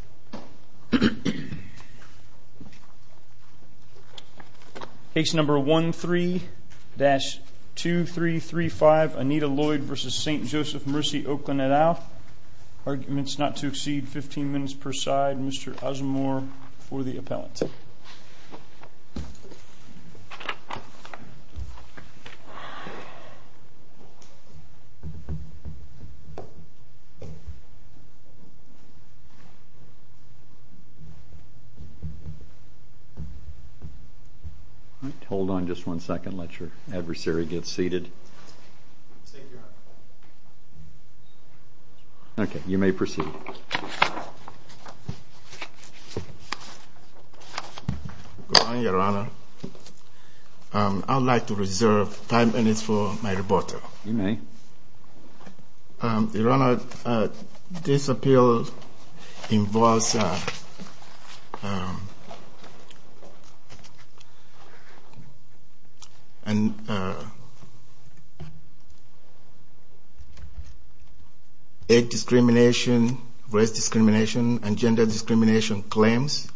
et al. Arguments not to exceed 15 minutes per side. Mr. Osmore for the appellant. Your Honor, I would like to reserve five minutes for my rebuttal. Your Honor, this appeal involves the involves egg discrimination, race discrimination, and gender discrimination claims,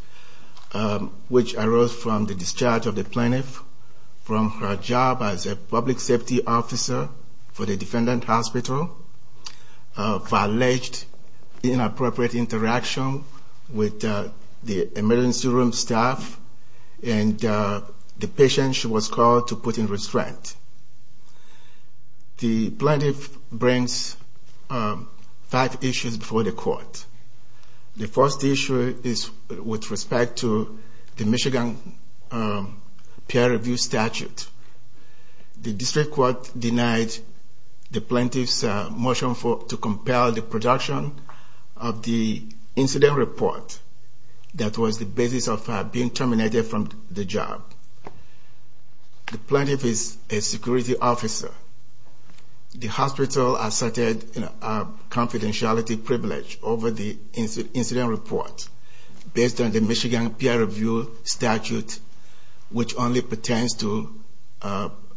which arose from the discharge of the plaintiff from her job as a public safety officer for the defendant hospital for alleged inappropriate interaction with the emergency room staff and the patient she was called to put in restraint. The plaintiff brings five issues before the court. The first issue is with respect to the Michigan peer review statute. The district court denied the plaintiff's motion to compel the production of the incident report that was the basis of her being terminated from the job. The plaintiff is a security officer. The hospital asserted confidentiality privilege over the incident report based on the Michigan peer review statute, which only pertains to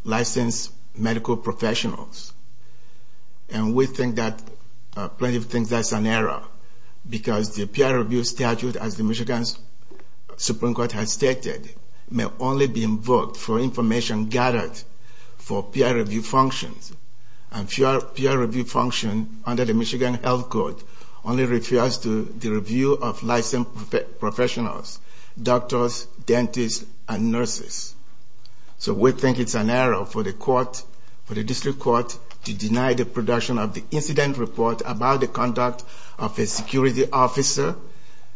licensed medical professionals. And we think that plaintiff thinks that's an error because the peer review statute, as the Michigan Supreme Court has stated, may only be invoked for information gathered for peer review functions. And peer dentists and nurses. So we think it's an error for the court, for the district court, to deny the production of the incident report about the conduct of a security officer,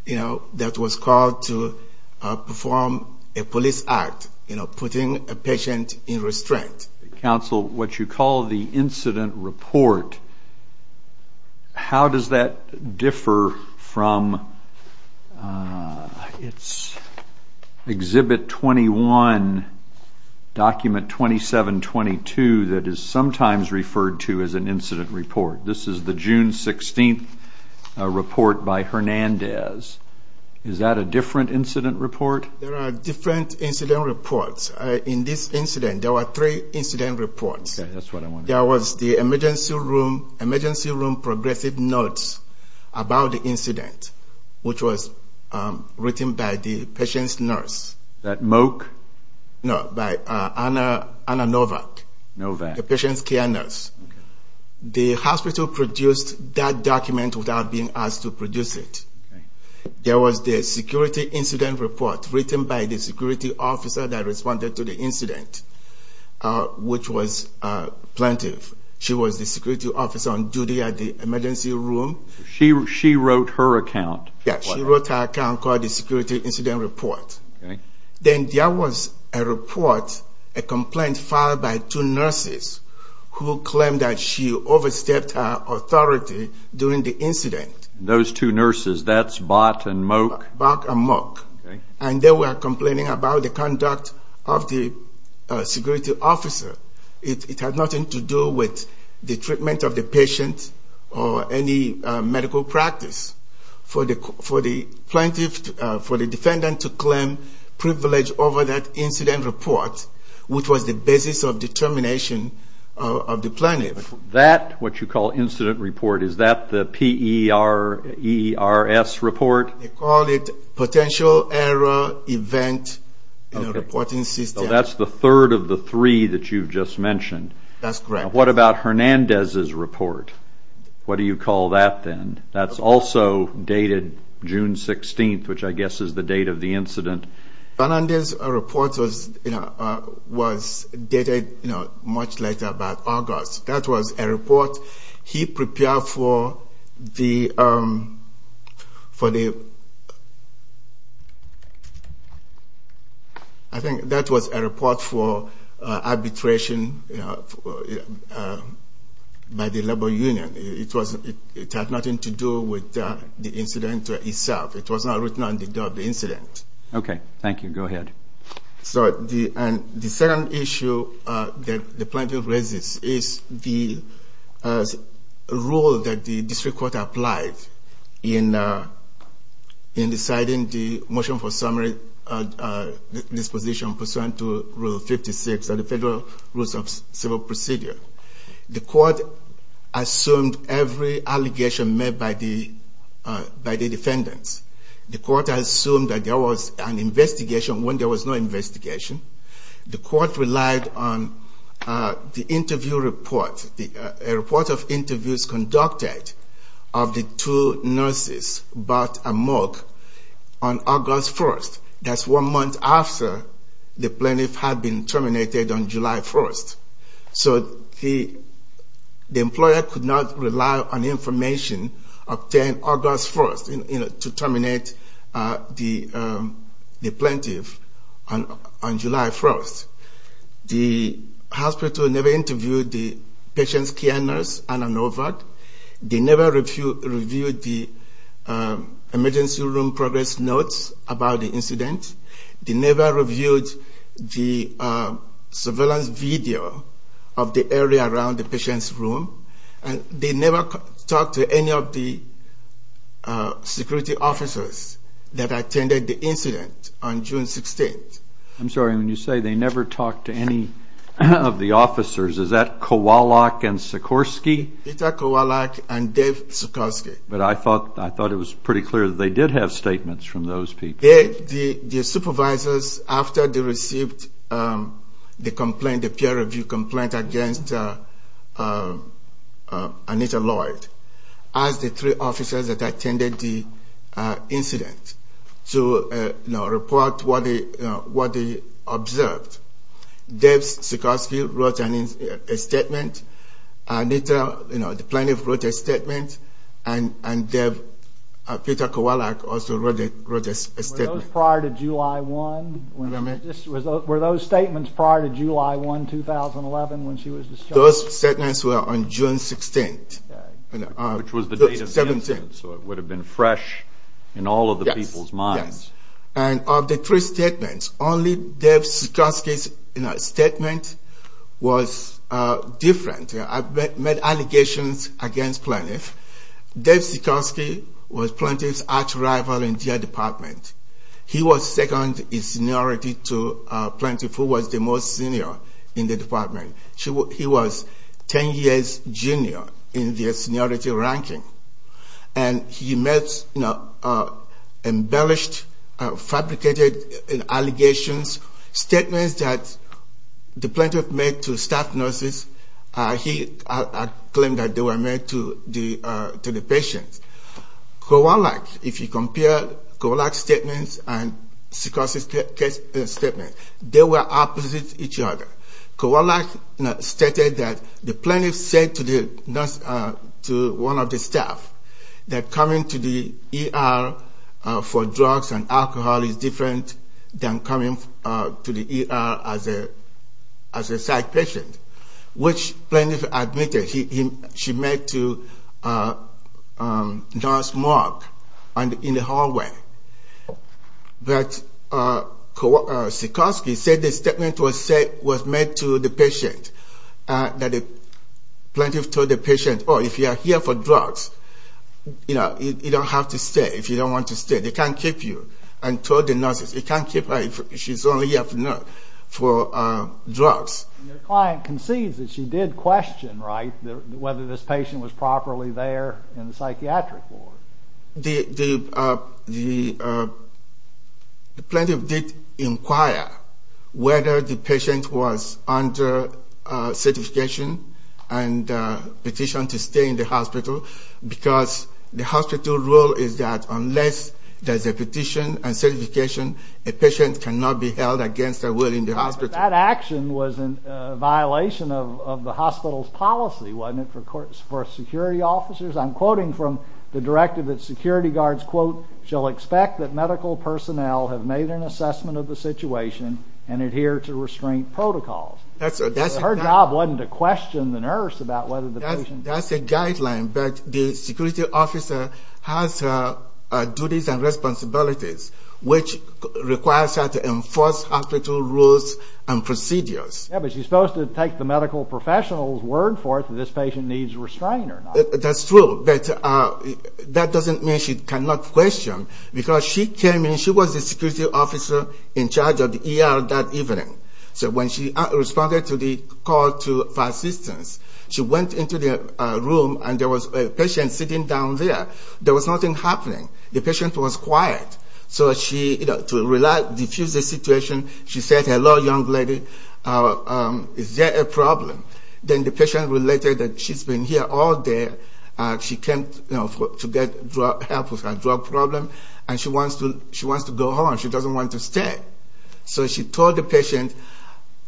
you know, that was called to perform a police act, you know, putting a patient in restraint. Counsel, what you call the incident report, how does that differ from its exhibit 21, document 2722 that is sometimes referred to as an incident report? This is the June 16th report by Hernandez. Is that a different incident report? There are different incident reports. In this incident, there were three incident reports. Okay, that's what I wanted to know. There was the emergency room progressive notes about the incident, which was written by the patient's nurse. Is that Moak? No, by Anna Novak. Novak. The patient's care nurse. The hospital produced that document without being asked to produce it. There was the security incident report written by the security officer that responded to the incident, which was plaintiff. She was the Then there was a report, a complaint filed by two nurses who claimed that she overstepped her authority during the incident. Those two nurses, that's Bott and Moak? And they were complaining about the conduct of the security officer. It had nothing to do with the treatment of the patient or any medical practice for the defendant to claim privilege over that incident report, which was the basis of determination of the plaintiff. That, what you call incident report, is that P-E-R-E-R-S report? They call it potential error event reporting system. That's the third of the three that you've just mentioned. That's correct. What about Hernandez's report? What do you call that then? That's also dated June 16th, which I guess is the date of the incident. Hernandez's report was dated much later That was a report he prepared for the, I think that was a report for arbitration by the labor union. It had nothing to do with the incident itself. It was not written on the is the rule that the district court applied in deciding the motion for summary disposition pursuant to Rule 56 of the Federal Rules of Civil Procedure. The court assumed every allegation made by the defendants. The court assumed that there was an investigation when there was no investigation. The court relied on the interview obtained August 1st to terminate the plaintiff on July 1st. The hospital never interviewed the patient's care nurse, Anna Novart. They never reviewed the emergency room progress notes about the incident. They never reviewed the surveillance video of the area around the patient's room. They never talked to any of the security officers that attended the incident on June 16th. I'm sorry, when you say they never talked to any of the officers, is that Kowalik and Sikorski? Peter Kowalik and Dave Sikorski. But I thought it was pretty clear that they did have statements from those people. supervisors after they received the complaint, the peer review complaint against Anita Lloyd, asked the three officers that attended the incident to report what they observed. Dave Sikorski wrote a statement, Anita, the plaintiff wrote a statement, and Dave, Peter Kowalik also wrote a statement. Were those statements prior to July 1, 2011 when she was discharged? Those statements were on June 16th. Which was the date of the incident, so it would have been fresh in all of the people's minds. And of the three statements, only Dave Sikorski's statement was different. I made allegations against the plaintiff. Dave Sikorski was the plaintiff's arch rival in their department. He was second in seniority to the plaintiff, who was the most senior in the department. He was ten years junior in their seniority ranking. And he made, you know, embellished, fabricated allegations, statements that the plaintiff made to staff nurses, he claimed that they were made to the patients. Kowalik, if you compare Kowalik's statements and Sikorski's statements, they were opposite each other. Kowalik stated that the plaintiff said to one of the staff that coming to the ER for drugs and alcohol is different than coming to the ER as a psych patient. Which plaintiff admitted she made to Nurse Mark in the hallway. But Sikorski said the statement was made to the patient, that the plaintiff told the patient, oh, if you are here for drugs, you know, you don't have to stay if you don't want to stay. They can't keep you. And told the nurses, you can't keep her if she's only here for drugs. Your client concedes that she did question, right, whether this patient was properly there in the psychiatric ward. The plaintiff did inquire whether the patient was under certification and petition to stay in the hospital, because the hospital rule is that unless there's a petition and certification, a patient cannot be held against their will in the hospital. That action was in violation of the hospital's policy, wasn't it, for security officers? I'm quoting from the directive that security guards, quote, shall expect that medical personnel have made an assessment of the situation and adhere to restraint protocols. That's a guideline, but the security officer has duties and responsibilities, which requires her to enforce hospital rules and procedures. Yeah, but she's supposed to take the medical professional's word for it that this patient needs restraint. That's true, but that doesn't mean she cannot question, because she came in, she was the security officer in charge of the ER that evening. So when she responded to the call for assistance, she went into the room and there was a patient sitting down there. There was nothing happening. The patient was quiet. So to diffuse the situation, she said, hello, young lady, is there a problem? Then the patient related that she's been here all day, she came to get help with her drug problem, and she wants to go home. She doesn't want to stay. So she told the patient,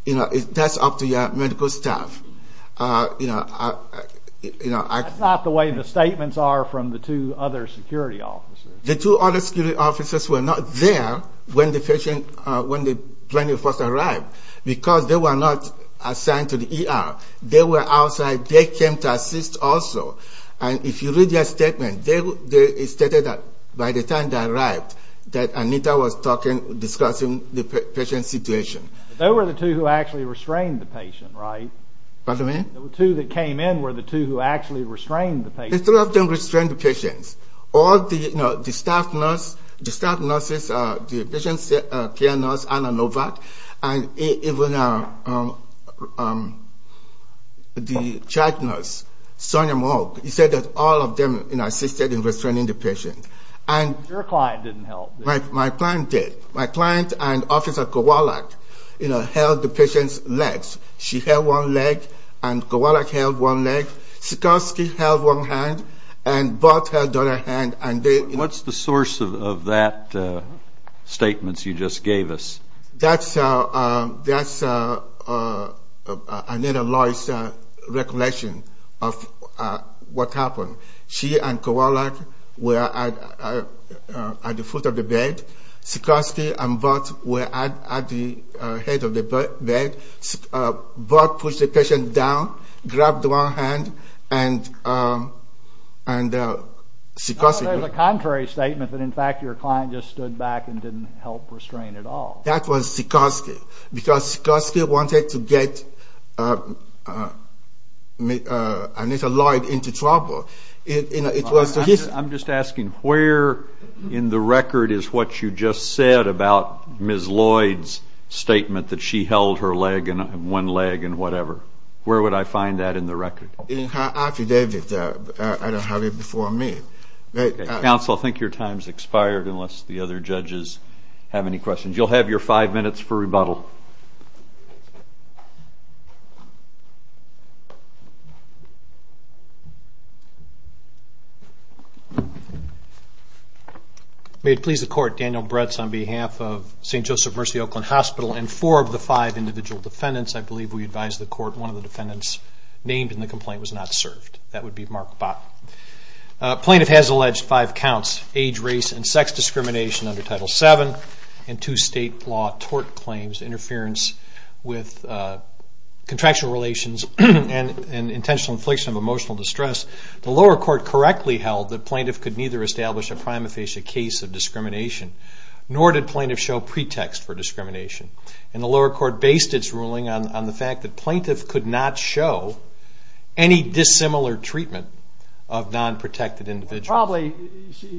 that's up to your medical staff. That's not the way the statements are from the two other security officers. The two other security officers were not there when the patient, when the plane first arrived, because they were not assigned to the ER. They were outside, they came to assist also. And if you read their statement, they stated that by the time they arrived, that Anita was talking, discussing the patient's situation. They were the two who actually restrained the patient, right? Pardon me? The two that came in were the two who actually restrained the patient. The two of them restrained the patient. All the, you know, the staff nurse, the staff nurses, the patient's care nurse, Anna Novak, and even the child nurse, Sonia Moak, you said that all of them, you know, assisted in restraining the patient. Your client didn't help. My client did. My client and Officer Kowalik, you know, held the patient's legs. She held one leg and Kowalik held one leg. Sikorski held one hand and Bott held the other hand. What's the source of that statement you just gave us? That's Anita Loy's recollection of what happened. She and Kowalik were at the foot of the bed. Sikorski and Bott were at the head of the bed. Bott pushed the patient down, grabbed one hand, and Sikorski— There's a contrary statement that, in fact, your client just stood back and didn't help restrain at all. That was Sikorski because Sikorski wanted to get Anita Loy into trouble. I'm just asking, where in the record is what you just said about Ms. Loy's statement that she held her leg and one leg and whatever? Where would I find that in the record? In her affidavit. I don't have it before me. Counsel, I think your time's expired unless the other judges have any questions. You'll have your five minutes for rebuttal. May it please the Court, Daniel Bretz on behalf of St. Joseph Mercy Oakland Hospital and four of the five individual defendants. I believe we advised the Court one of the defendants named in the complaint was not served. That would be Mark Bott. Plaintiff has alleged five counts, age, race, and sex discrimination under Title VII and two state law tort claims, interference with contractual relations and intentional infliction of emotional distress. The lower court correctly held that plaintiff could neither establish a prima facie case of discrimination nor did plaintiff show pretext for discrimination. The lower court based its ruling on the fact that plaintiff could not show any dissimilar treatment of non-protected individuals.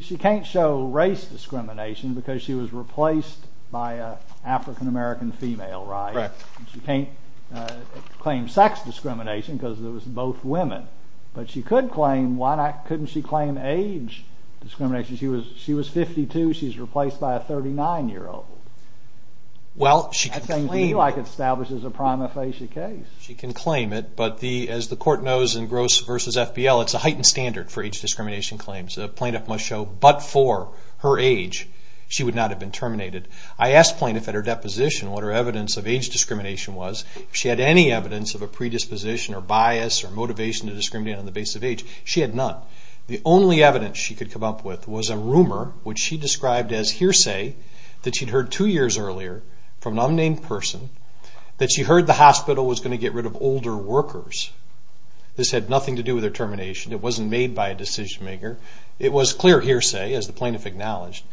She can't show race discrimination because she was replaced by an African-American female, right? She can't claim sex discrimination because it was both women. But she could claim, why couldn't she claim age discrimination? She was 52, she was replaced by a 39-year-old. Well, she could claim it. That seems to me like it establishes a prima facie case. She can claim it, but as the Court knows in Gross v. FBL, it's a heightened standard for age discrimination claims. A plaintiff must show, but for her age, she would not have been terminated. I asked plaintiff at her deposition what her evidence of age discrimination was. If she had any evidence of a predisposition or bias or motivation to discriminate on the basis of age. She had none. The only evidence she could come up with was a rumor, which she described as hearsay, that she'd heard two years earlier from an unnamed person that she heard the hospital was going to get rid of older workers. This had nothing to do with her termination. It wasn't made by a decision-maker. It was clear hearsay, as the plaintiff acknowledged.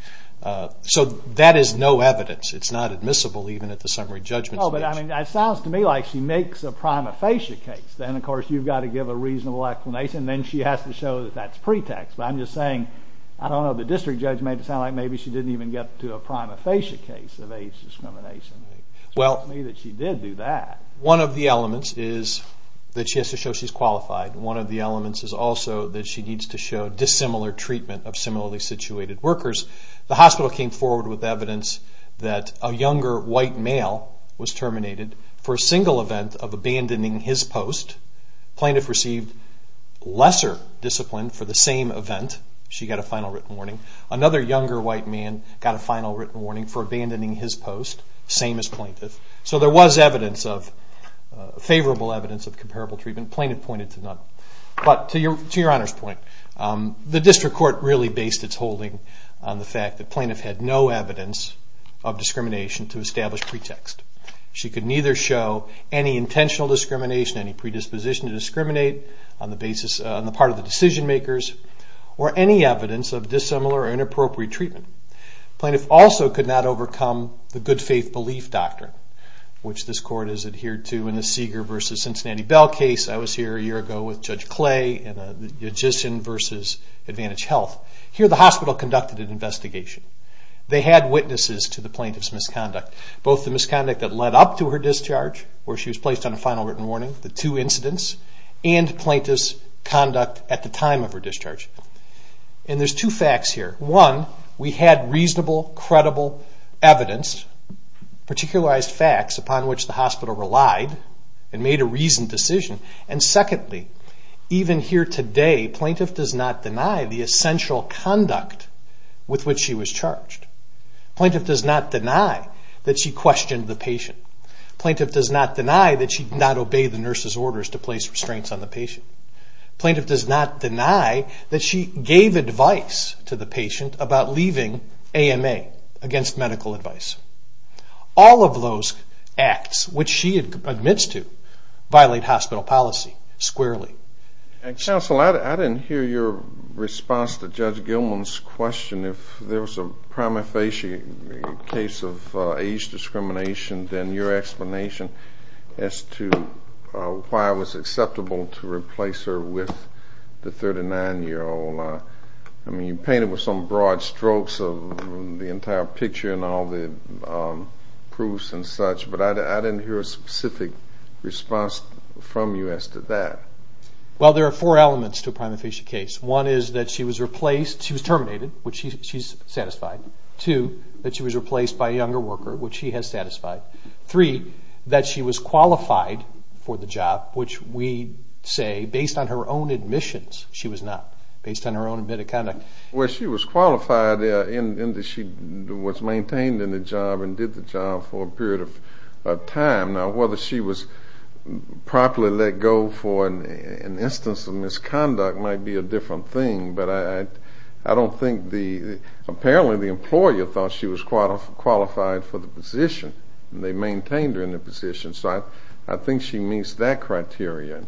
So that is no evidence. It's not admissible even at the summary judgment. It sounds to me like she makes a prima facie case. Then, of course, you've got to give a reasonable explanation. Then she has to show that that's pretext. But I'm just saying, I don't know, the district judge made it sound like maybe she didn't even get to a prima facie case of age discrimination. It's not to me that she did do that. One of the elements is that she has to show she's qualified. One of the elements is also that she needs to show dissimilar treatment of similarly situated workers. The hospital came forward with evidence that a younger white male was terminated for a single event of abandoning his post. The plaintiff received lesser discipline for the same event. She got a final written warning. Another younger white man got a final written warning for abandoning his post. Same as plaintiff. So there was favorable evidence of comparable treatment. Plaintiff pointed to none. But to your Honor's point, the district court really based its holding on the fact that plaintiff had no evidence of discrimination to establish pretext. She could neither show any intentional discrimination, any predisposition to discriminate on the part of the decision-makers, or any evidence of dissimilar or inappropriate treatment. Plaintiff also could not overcome the good faith belief doctrine, which this court has adhered to in the Seeger v. Cincinnati Bell case. I was here a year ago with Judge Clay in the Judician v. Advantage Health. Here the hospital conducted an investigation. They had witnesses to the plaintiff's misconduct. Both the misconduct that led up to her discharge, where she was placed on a final written warning, the two incidents, and plaintiff's conduct at the time of her discharge. And there's two facts here. One, we had reasonable, credible evidence, particularized facts upon which the hospital relied and made a reasoned decision. And secondly, even here today, plaintiff does not deny the essential conduct with which she was charged. Plaintiff does not deny that she questioned the patient. Plaintiff does not deny that she did not obey the nurse's orders to place restraints on the patient. Plaintiff does not deny that she gave advice to the patient about leaving AMA, against medical advice. All of those acts, which she admits to, violate hospital policy, squarely. Counsel, I didn't hear your response to Judge Gilman's question. If there was a prima facie case of age discrimination, then your explanation as to why it was acceptable to replace her with the 39-year-old. I mean, you painted with some broad strokes of the entire picture and all the proofs and such, but I didn't hear a specific response from you as to that. Well, there are four elements to a prima facie case. One is that she was replaced. She was terminated, which she's satisfied. Two, that she was replaced by a younger worker, which she has satisfied. Three, that she was qualified for the job, which we say, based on her own admissions, she was not. Based on her own admitted conduct. Well, she was qualified in that she was maintained in the job and did the job for a period of time. Now, whether she was properly let go for an instance of misconduct might be a different thing, but I don't think the—apparently the employer thought she was qualified for the position, and they maintained her in the position. So I think she meets that criteria.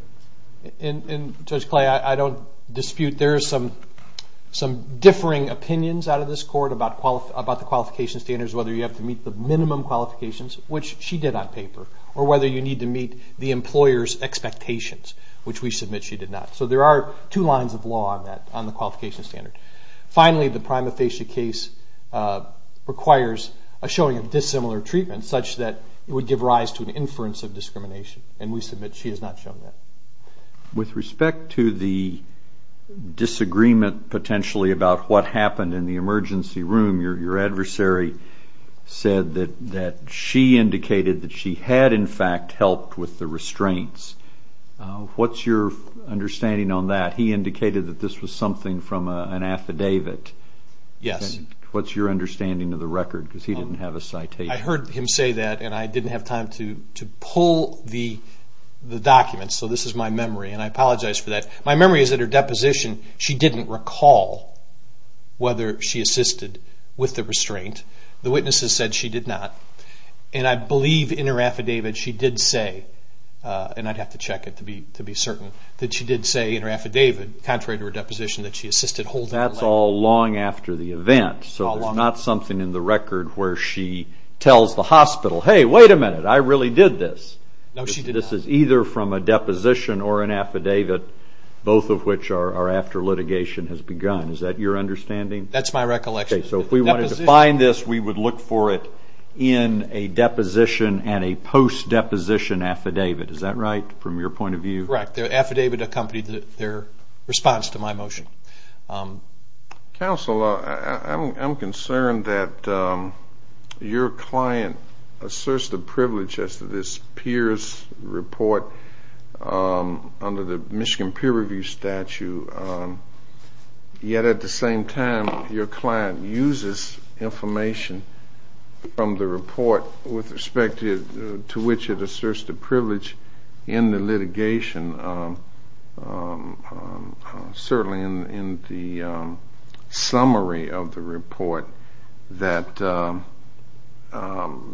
And, Judge Clay, I don't dispute there are some differing opinions out of this court about the qualification standards, whether you have to meet the minimum qualifications, which she did on paper, or whether you need to meet the employer's expectations, which we submit she did not. So there are two lines of law on that, on the qualification standard. Finally, the prima facie case requires a showing of dissimilar treatment, such that it would give rise to an inference of discrimination, and we submit she has not shown that. With respect to the disagreement, potentially, about what happened in the emergency room, your adversary said that she indicated that she had, in fact, helped with the restraints. What's your understanding on that? He indicated that this was something from an affidavit. Yes. What's your understanding of the record, because he didn't have a citation? I heard him say that, and I didn't have time to pull the documents, so this is my memory, and I apologize for that. My memory is that her deposition, she didn't recall whether she assisted with the restraint. The witnesses said she did not, and I believe in her affidavit, she did say, and I'd have to check it to be certain, that she did say in her affidavit, contrary to her deposition, that she assisted holding her leg. That's all long after the event, so there's not something in the record where she tells the hospital, hey, wait a minute, I really did this. No, she did not. This is either from a deposition or an affidavit, both of which are after litigation has begun. Is that your understanding? That's my recollection. Okay, so if we wanted to find this, we would look for it in a deposition and a post-deposition affidavit. Is that right, from your point of view? Correct. The affidavit accompanied their response to my motion. Counsel, I'm concerned that your client asserts the privilege as to this peers report under the Michigan Peer Review statute, yet at the same time your client uses information from the report with respect to which it asserts the privilege in the litigation, certainly in the summary of the report that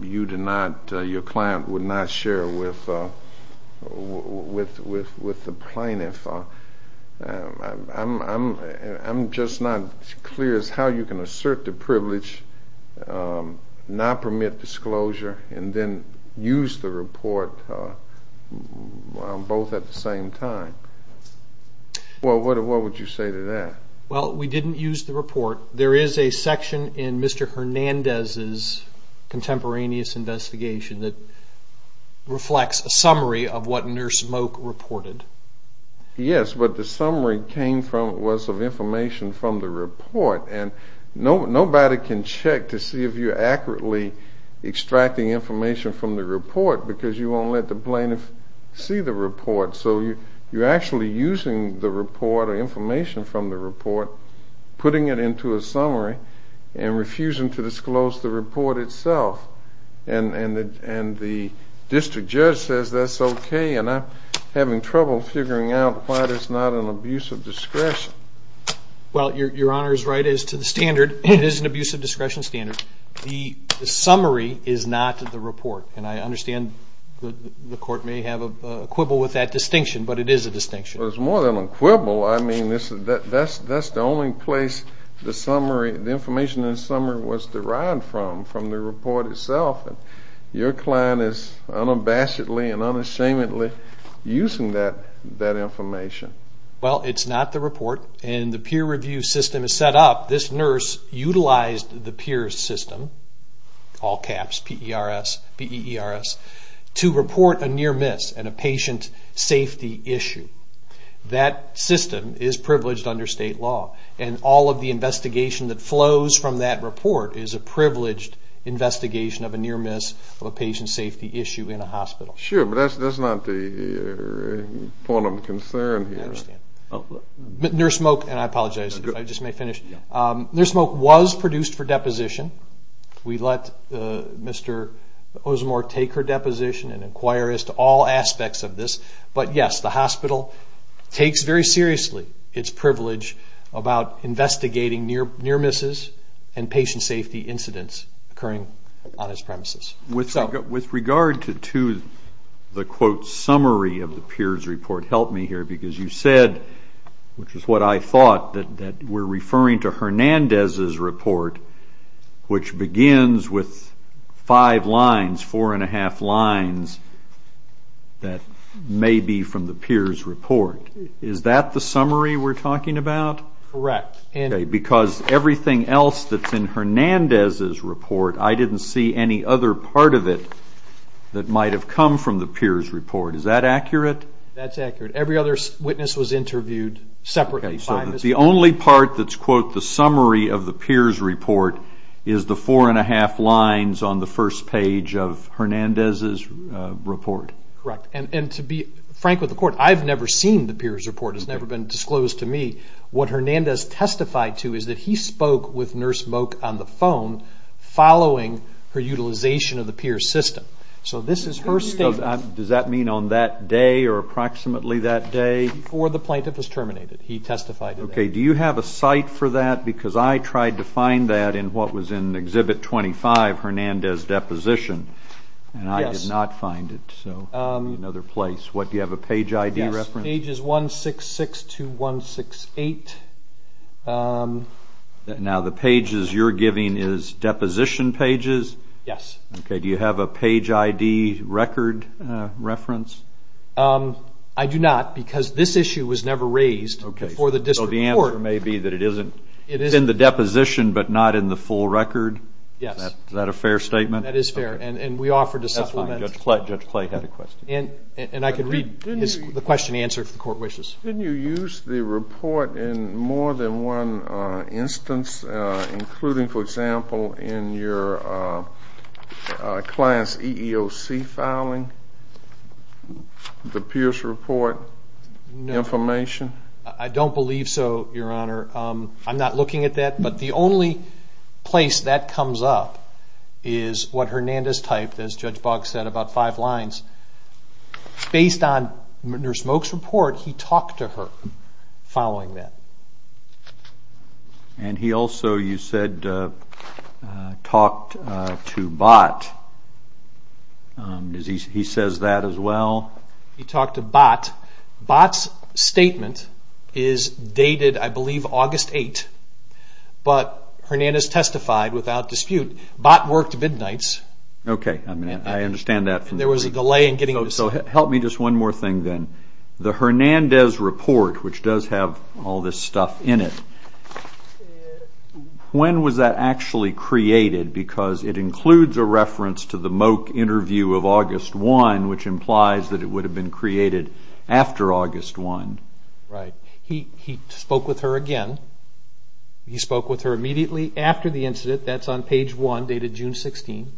your client would not share with the plaintiff. I'm just not as clear as how you can assert the privilege, not permit disclosure, and then use the report both at the same time. What would you say to that? Well, we didn't use the report. There is a section in Mr. Hernandez's contemporaneous investigation that reflects a summary of what Nurse Moak reported. Yes, but the summary was of information from the report, and nobody can check to see if you're accurately extracting information from the report because you won't let the plaintiff see the report. So you're actually using the report or information from the report, putting it into a summary, and refusing to disclose the report itself. And the district judge says that's okay, and I'm having trouble figuring out why there's not an abuse of discretion. Well, your Honor is right as to the standard. It is an abuse of discretion standard. The summary is not the report, and I understand the court may have a quibble with that distinction, but it is a distinction. Well, it's more than a quibble. I mean, that's the only place the information in the summary was derived from, from the report itself. Your client is unabashedly and unashamedly using that information. Well, it's not the report, and the peer review system is set up. This nurse utilized the PEERS system, all caps, P-E-R-S, P-E-E-R-S, to report a near miss and a patient safety issue. That system is privileged under state law, and all of the investigation that flows from that report is a privileged investigation of a near miss of a patient safety issue in a hospital. Sure, but that's not the point of concern here. Nurse Moak, and I apologize, I just may finish. Nurse Moak was produced for deposition. We let Mr. Osmore take her deposition and inquire as to all aspects of this. But yes, the hospital takes very seriously its privilege about investigating near misses and patient safety incidents occurring on its premises. With regard to the quote summary of the PEERS report, help me here, because you said, which is what I thought, that we're referring to Hernandez's report, which begins with five lines, four and a half lines, that may be from the PEERS report. Is that the summary we're talking about? Correct. Because everything else that's in Hernandez's report, I didn't see any other part of it that might have come from the PEERS report. Is that accurate? That's accurate. Every other witness was interviewed separately. So the only part that's quote the summary of the PEERS report is the four and a half lines on the first page of Hernandez's report? Correct. And to be frank with the court, I've never seen the PEERS report. It's never been disclosed to me. What Hernandez testified to is that he spoke with Nurse Moak on the phone following her utilization of the PEERS system. So this is her statement. Does that mean on that day or approximately that day? Before the plaintiff was terminated, he testified. Okay. Do you have a site for that? Because I tried to find that in what was in Exhibit 25, Hernandez's deposition, and I did not find it. So another place. Do you have a page ID reference? Yes. Pages 166 to 168. Now the pages you're giving is deposition pages? Yes. Okay. Do you have a page ID record reference? I do not because this issue was never raised before the district court. So the answer may be that it is in the deposition but not in the full record? Yes. Is that a fair statement? That is fair, and we offer to supplement. Judge Clay had a question. And I can read the question and answer if the court wishes. Didn't you use the report in more than one instance, including, for example, in your client's EEOC filing, the PEERS report information? No. I don't believe so, Your Honor. I'm not looking at that, but the only place that comes up is what Hernandez typed, as Judge Boggs said, about five lines. Based on Mr. Smoke's report, he talked to her following that. And he also, you said, talked to Bott. He says that as well? He talked to Bott. Bott's statement is dated, I believe, August 8th. But Hernandez testified without dispute. Bott worked midnights. Okay. I understand that. There was a delay in getting this. So help me just one more thing then. The Hernandez report, which does have all this stuff in it, when was that actually created? Because it includes a reference to the Moke interview of August 1, which implies that it would have been created after August 1. Right. He spoke with her again. He spoke with her immediately after the incident. That's on page 1, dated June 16.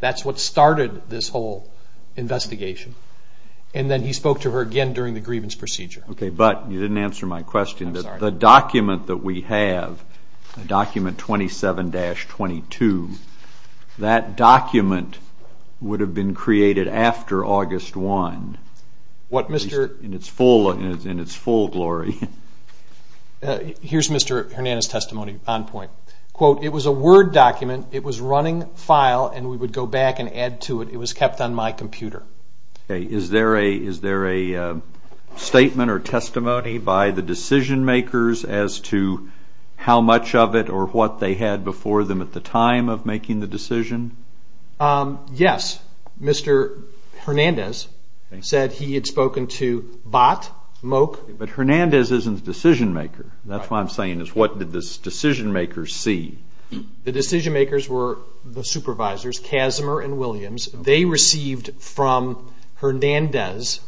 That's what started this whole investigation. And then he spoke to her again during the grievance procedure. I'm sorry. The document that we have, document 27-22, that document would have been created after August 1. What Mr. In its full glory. Here's Mr. Hernandez' testimony on point. Quote, it was a Word document. It was running file, and we would go back and add to it. It was kept on my computer. Is there a statement or testimony by the decision-makers as to how much of it or what they had before them at the time of making the decision? Yes. Mr. Hernandez said he had spoken to Bott, Moke. But Hernandez isn't the decision-maker. That's what I'm saying, is what did the decision-makers see? The decision-makers were the supervisors, Kazimer and Williams. They received from Hernandez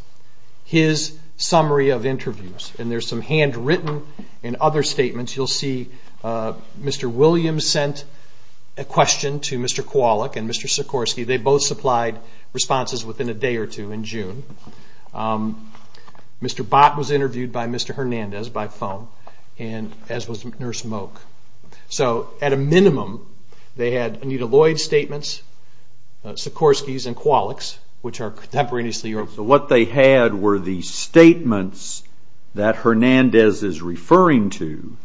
his summary of interviews. And there's some handwritten and other statements. You'll see Mr. Williams sent a question to Mr. Kowalik and Mr. Sikorski. They both supplied responses within a day or two in June. Mr. Bott was interviewed by Mr. Hernandez by phone, as was Nurse Moke. At a minimum, they had Anita Lloyd's statements, Sikorski's and Kowalik's, which are contemporaneously. What they had were the statements that Hernandez is referring to.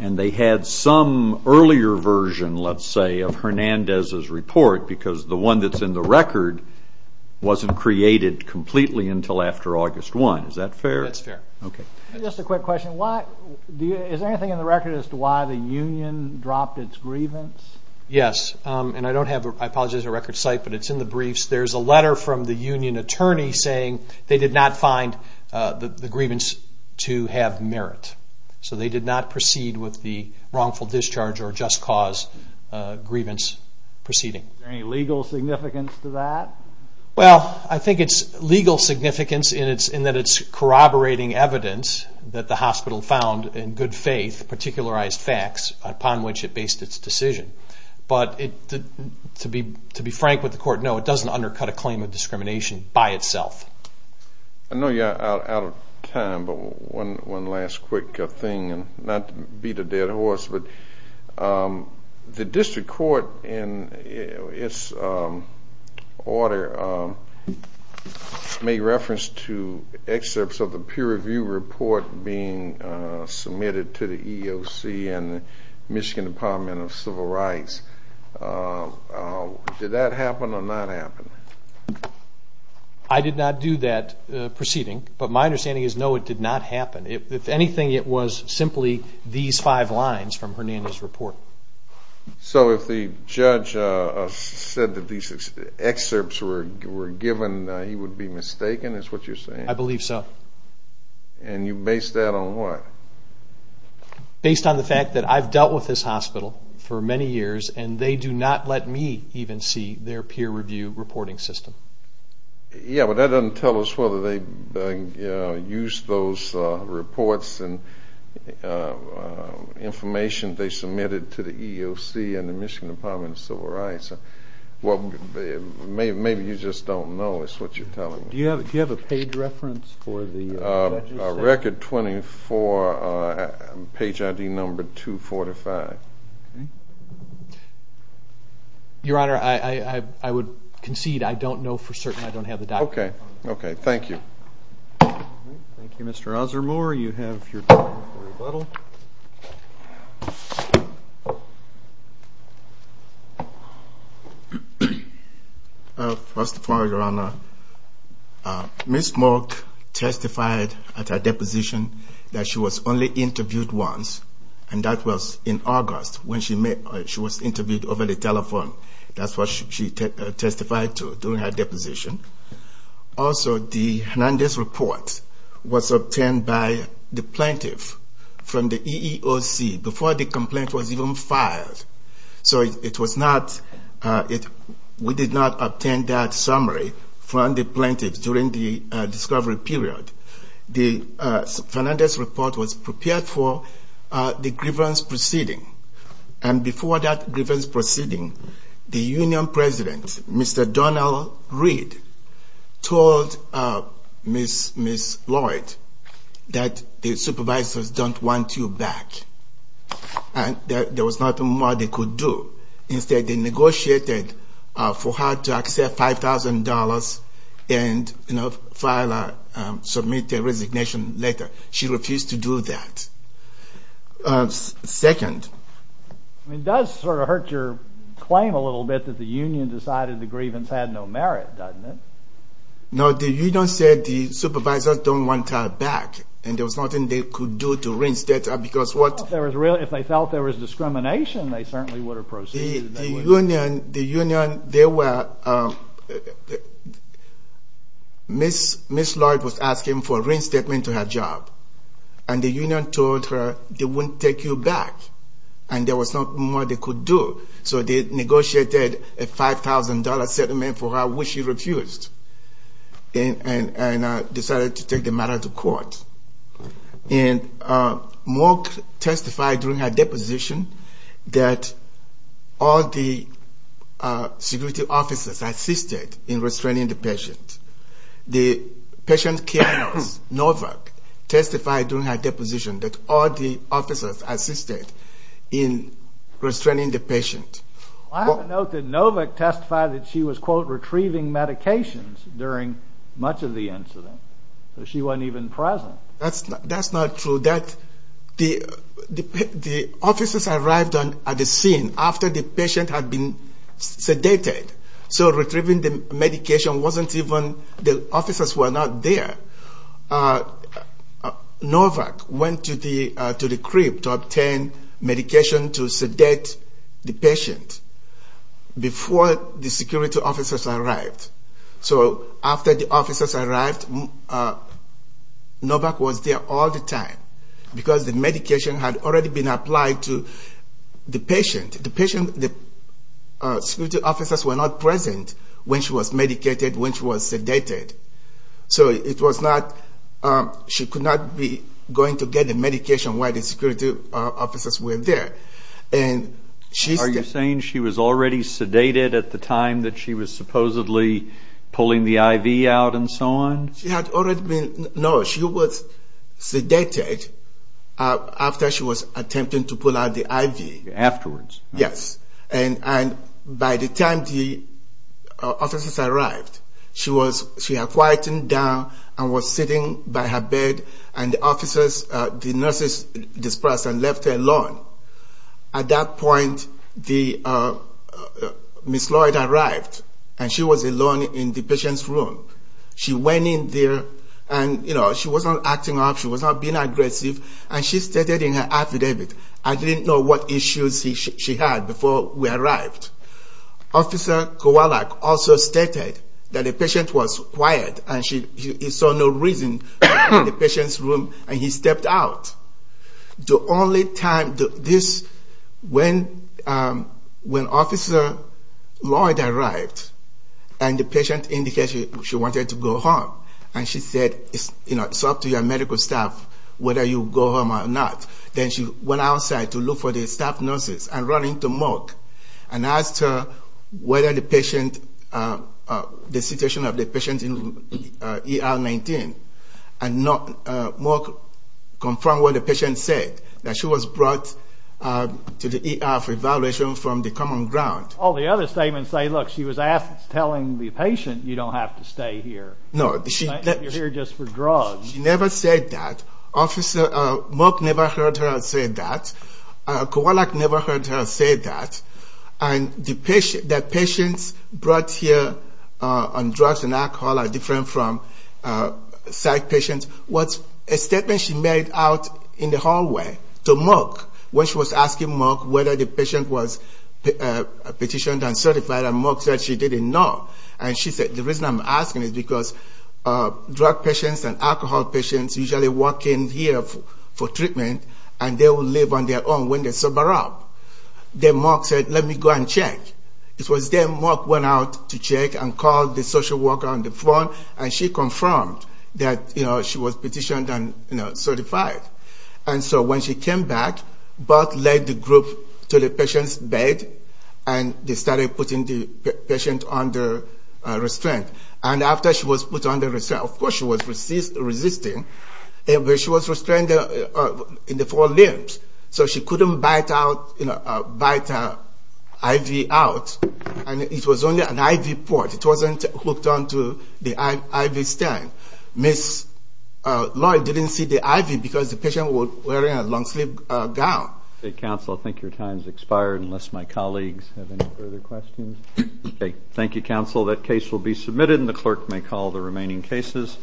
And they had some earlier version, let's say, of Hernandez's report, because the one that's in the record wasn't created completely until after August 1. Is that fair? That's fair. Okay. Just a quick question. Is there anything in the record as to why the union dropped its grievance? Yes. And I apologize it's a record site, but it's in the briefs. There's a letter from the union attorney saying they did not find the grievance to have merit. So they did not proceed with the wrongful discharge or just cause grievance proceeding. Is there any legal significance to that? Well, I think it's legal significance in that it's corroborating evidence that the hospital found, in good faith, particularized facts upon which it based its decision. But to be frank with the court, no, it doesn't undercut a claim of discrimination by itself. I know you're out of time, but one last quick thing, and not to beat a dead horse, but the district court in its order made reference to excerpts of the peer review report being submitted to the EEOC and the Michigan Department of Civil Rights. Did that happen or not happen? I did not do that proceeding, but my understanding is, no, it did not happen. If anything, it was simply these five lines from Hernando's report. So if the judge said that these excerpts were given, he would be mistaken is what you're saying? I believe so. And you base that on what? Based on the fact that I've dealt with this hospital for many years, and they do not let me even see their peer review reporting system. Yeah, but that doesn't tell us whether they used those reports and information they submitted to the EEOC and the Michigan Department of Civil Rights. Maybe you just don't know is what you're telling me. Do you have a page reference for the judge's section? Record 24, page ID number 245. Okay. Your Honor, I would concede I don't know for certain. I don't have the document. Okay. Okay. Thank you. Thank you, Mr. Osamor. You have your rebuttal. First of all, Your Honor, Ms. Mork testified at her deposition that she was only interviewed once, and that was in August when she was interviewed over the telephone. That's what she testified to during her deposition. Also, the Hernandez report was obtained by the plaintiff from the EEOC before the complaint was even filed. So we did not obtain that summary from the plaintiff during the discovery period. The Hernandez report was prepared for the grievance proceeding, and before that grievance proceeding, the union president, Mr. Donald Reed, told Ms. Lloyd that the supervisors don't want you back, and there was nothing more they could do. Instead, they negotiated for her to accept $5,000 and file or submit a resignation letter. She refused to do that. Second. It does sort of hurt your claim a little bit that the union decided the grievance had no merit, doesn't it? No. The union said the supervisors don't want her back, and there was nothing they could do to rinse that out. If they felt there was discrimination, they certainly would have proceeded. Ms. Lloyd was asking for a reinstatement to her job, and the union told her they wouldn't take you back, and there was nothing more they could do. So they negotiated a $5,000 settlement for her, which she refused, and decided to take the matter to court. And Mork testified during her deposition that all the security officers assisted in restraining the patient. The patient care nurse, Novak, testified during her deposition that all the officers assisted in restraining the patient. I have a note that Novak testified that she was, quote, So she wasn't even present. That's not true. The officers arrived at the scene after the patient had been sedated. So retrieving the medication wasn't even – the officers were not there. Novak went to the crib to obtain medication to sedate the patient before the security officers arrived. So after the officers arrived, Novak was there all the time because the medication had already been applied to the patient. The security officers were not present when she was medicated, when she was sedated. So it was not – she could not be going to get the medication while the security officers were there. Are you saying she was already sedated at the time that she was supposedly pulling the IV out and so on? She had already been – no, she was sedated after she was attempting to pull out the IV. Afterwards. Yes. And by the time the officers arrived, she had quieted down and was sitting by her bed, and the nurses dispersed and left her alone. At that point, Ms. Lloyd arrived, and she was alone in the patient's room. She went in there, and she was not acting up, she was not being aggressive, and she stated in her affidavit, I didn't know what issues she had before we arrived. Officer Kowalik also stated that the patient was quiet, and he saw no reason in the patient's room, and he stepped out. The only time – this – when Officer Lloyd arrived, and the patient indicated she wanted to go home, and she said, it's up to your medical staff whether you go home or not. Then she went outside to look for the staff nurses, and ran into Mark, and asked her whether the patient – the situation of the patient in ER 19, and Mark confirmed what the patient said, that she was brought to the ER for evaluation from the common ground. All the other statements say, look, she was telling the patient, you don't have to stay here. You're here just for drugs. She never said that. Mark never heard her say that. Kowalik never heard her say that. The patients brought here on drugs and alcohol are different from psych patients. A statement she made out in the hallway to Mark, when she was asking Mark whether the patient was petitioned and certified, and Mark said she didn't know. And she said, the reason I'm asking is because drug patients and alcohol patients usually walk in here for treatment, and they will live on their own when they sober up. Then Mark said, let me go and check. It was then Mark went out to check and called the social worker on the phone, and she confirmed that she was petitioned and certified. And so when she came back, Bob led the group to the patient's bed, and they started putting the patient under restraint. And after she was put under restraint, of course she was resisting, but she was restrained in the four limbs, so she couldn't bite out, you know, bite her IV out, and it was only an IV port. It wasn't hooked onto the IV stand. Ms. Loy didn't see the IV because the patient was wearing a long-sleeve gown. Okay, counsel, I think your time has expired unless my colleagues have any further questions. Thank you, counsel. That case will be submitted, and the clerk may call the remaining cases.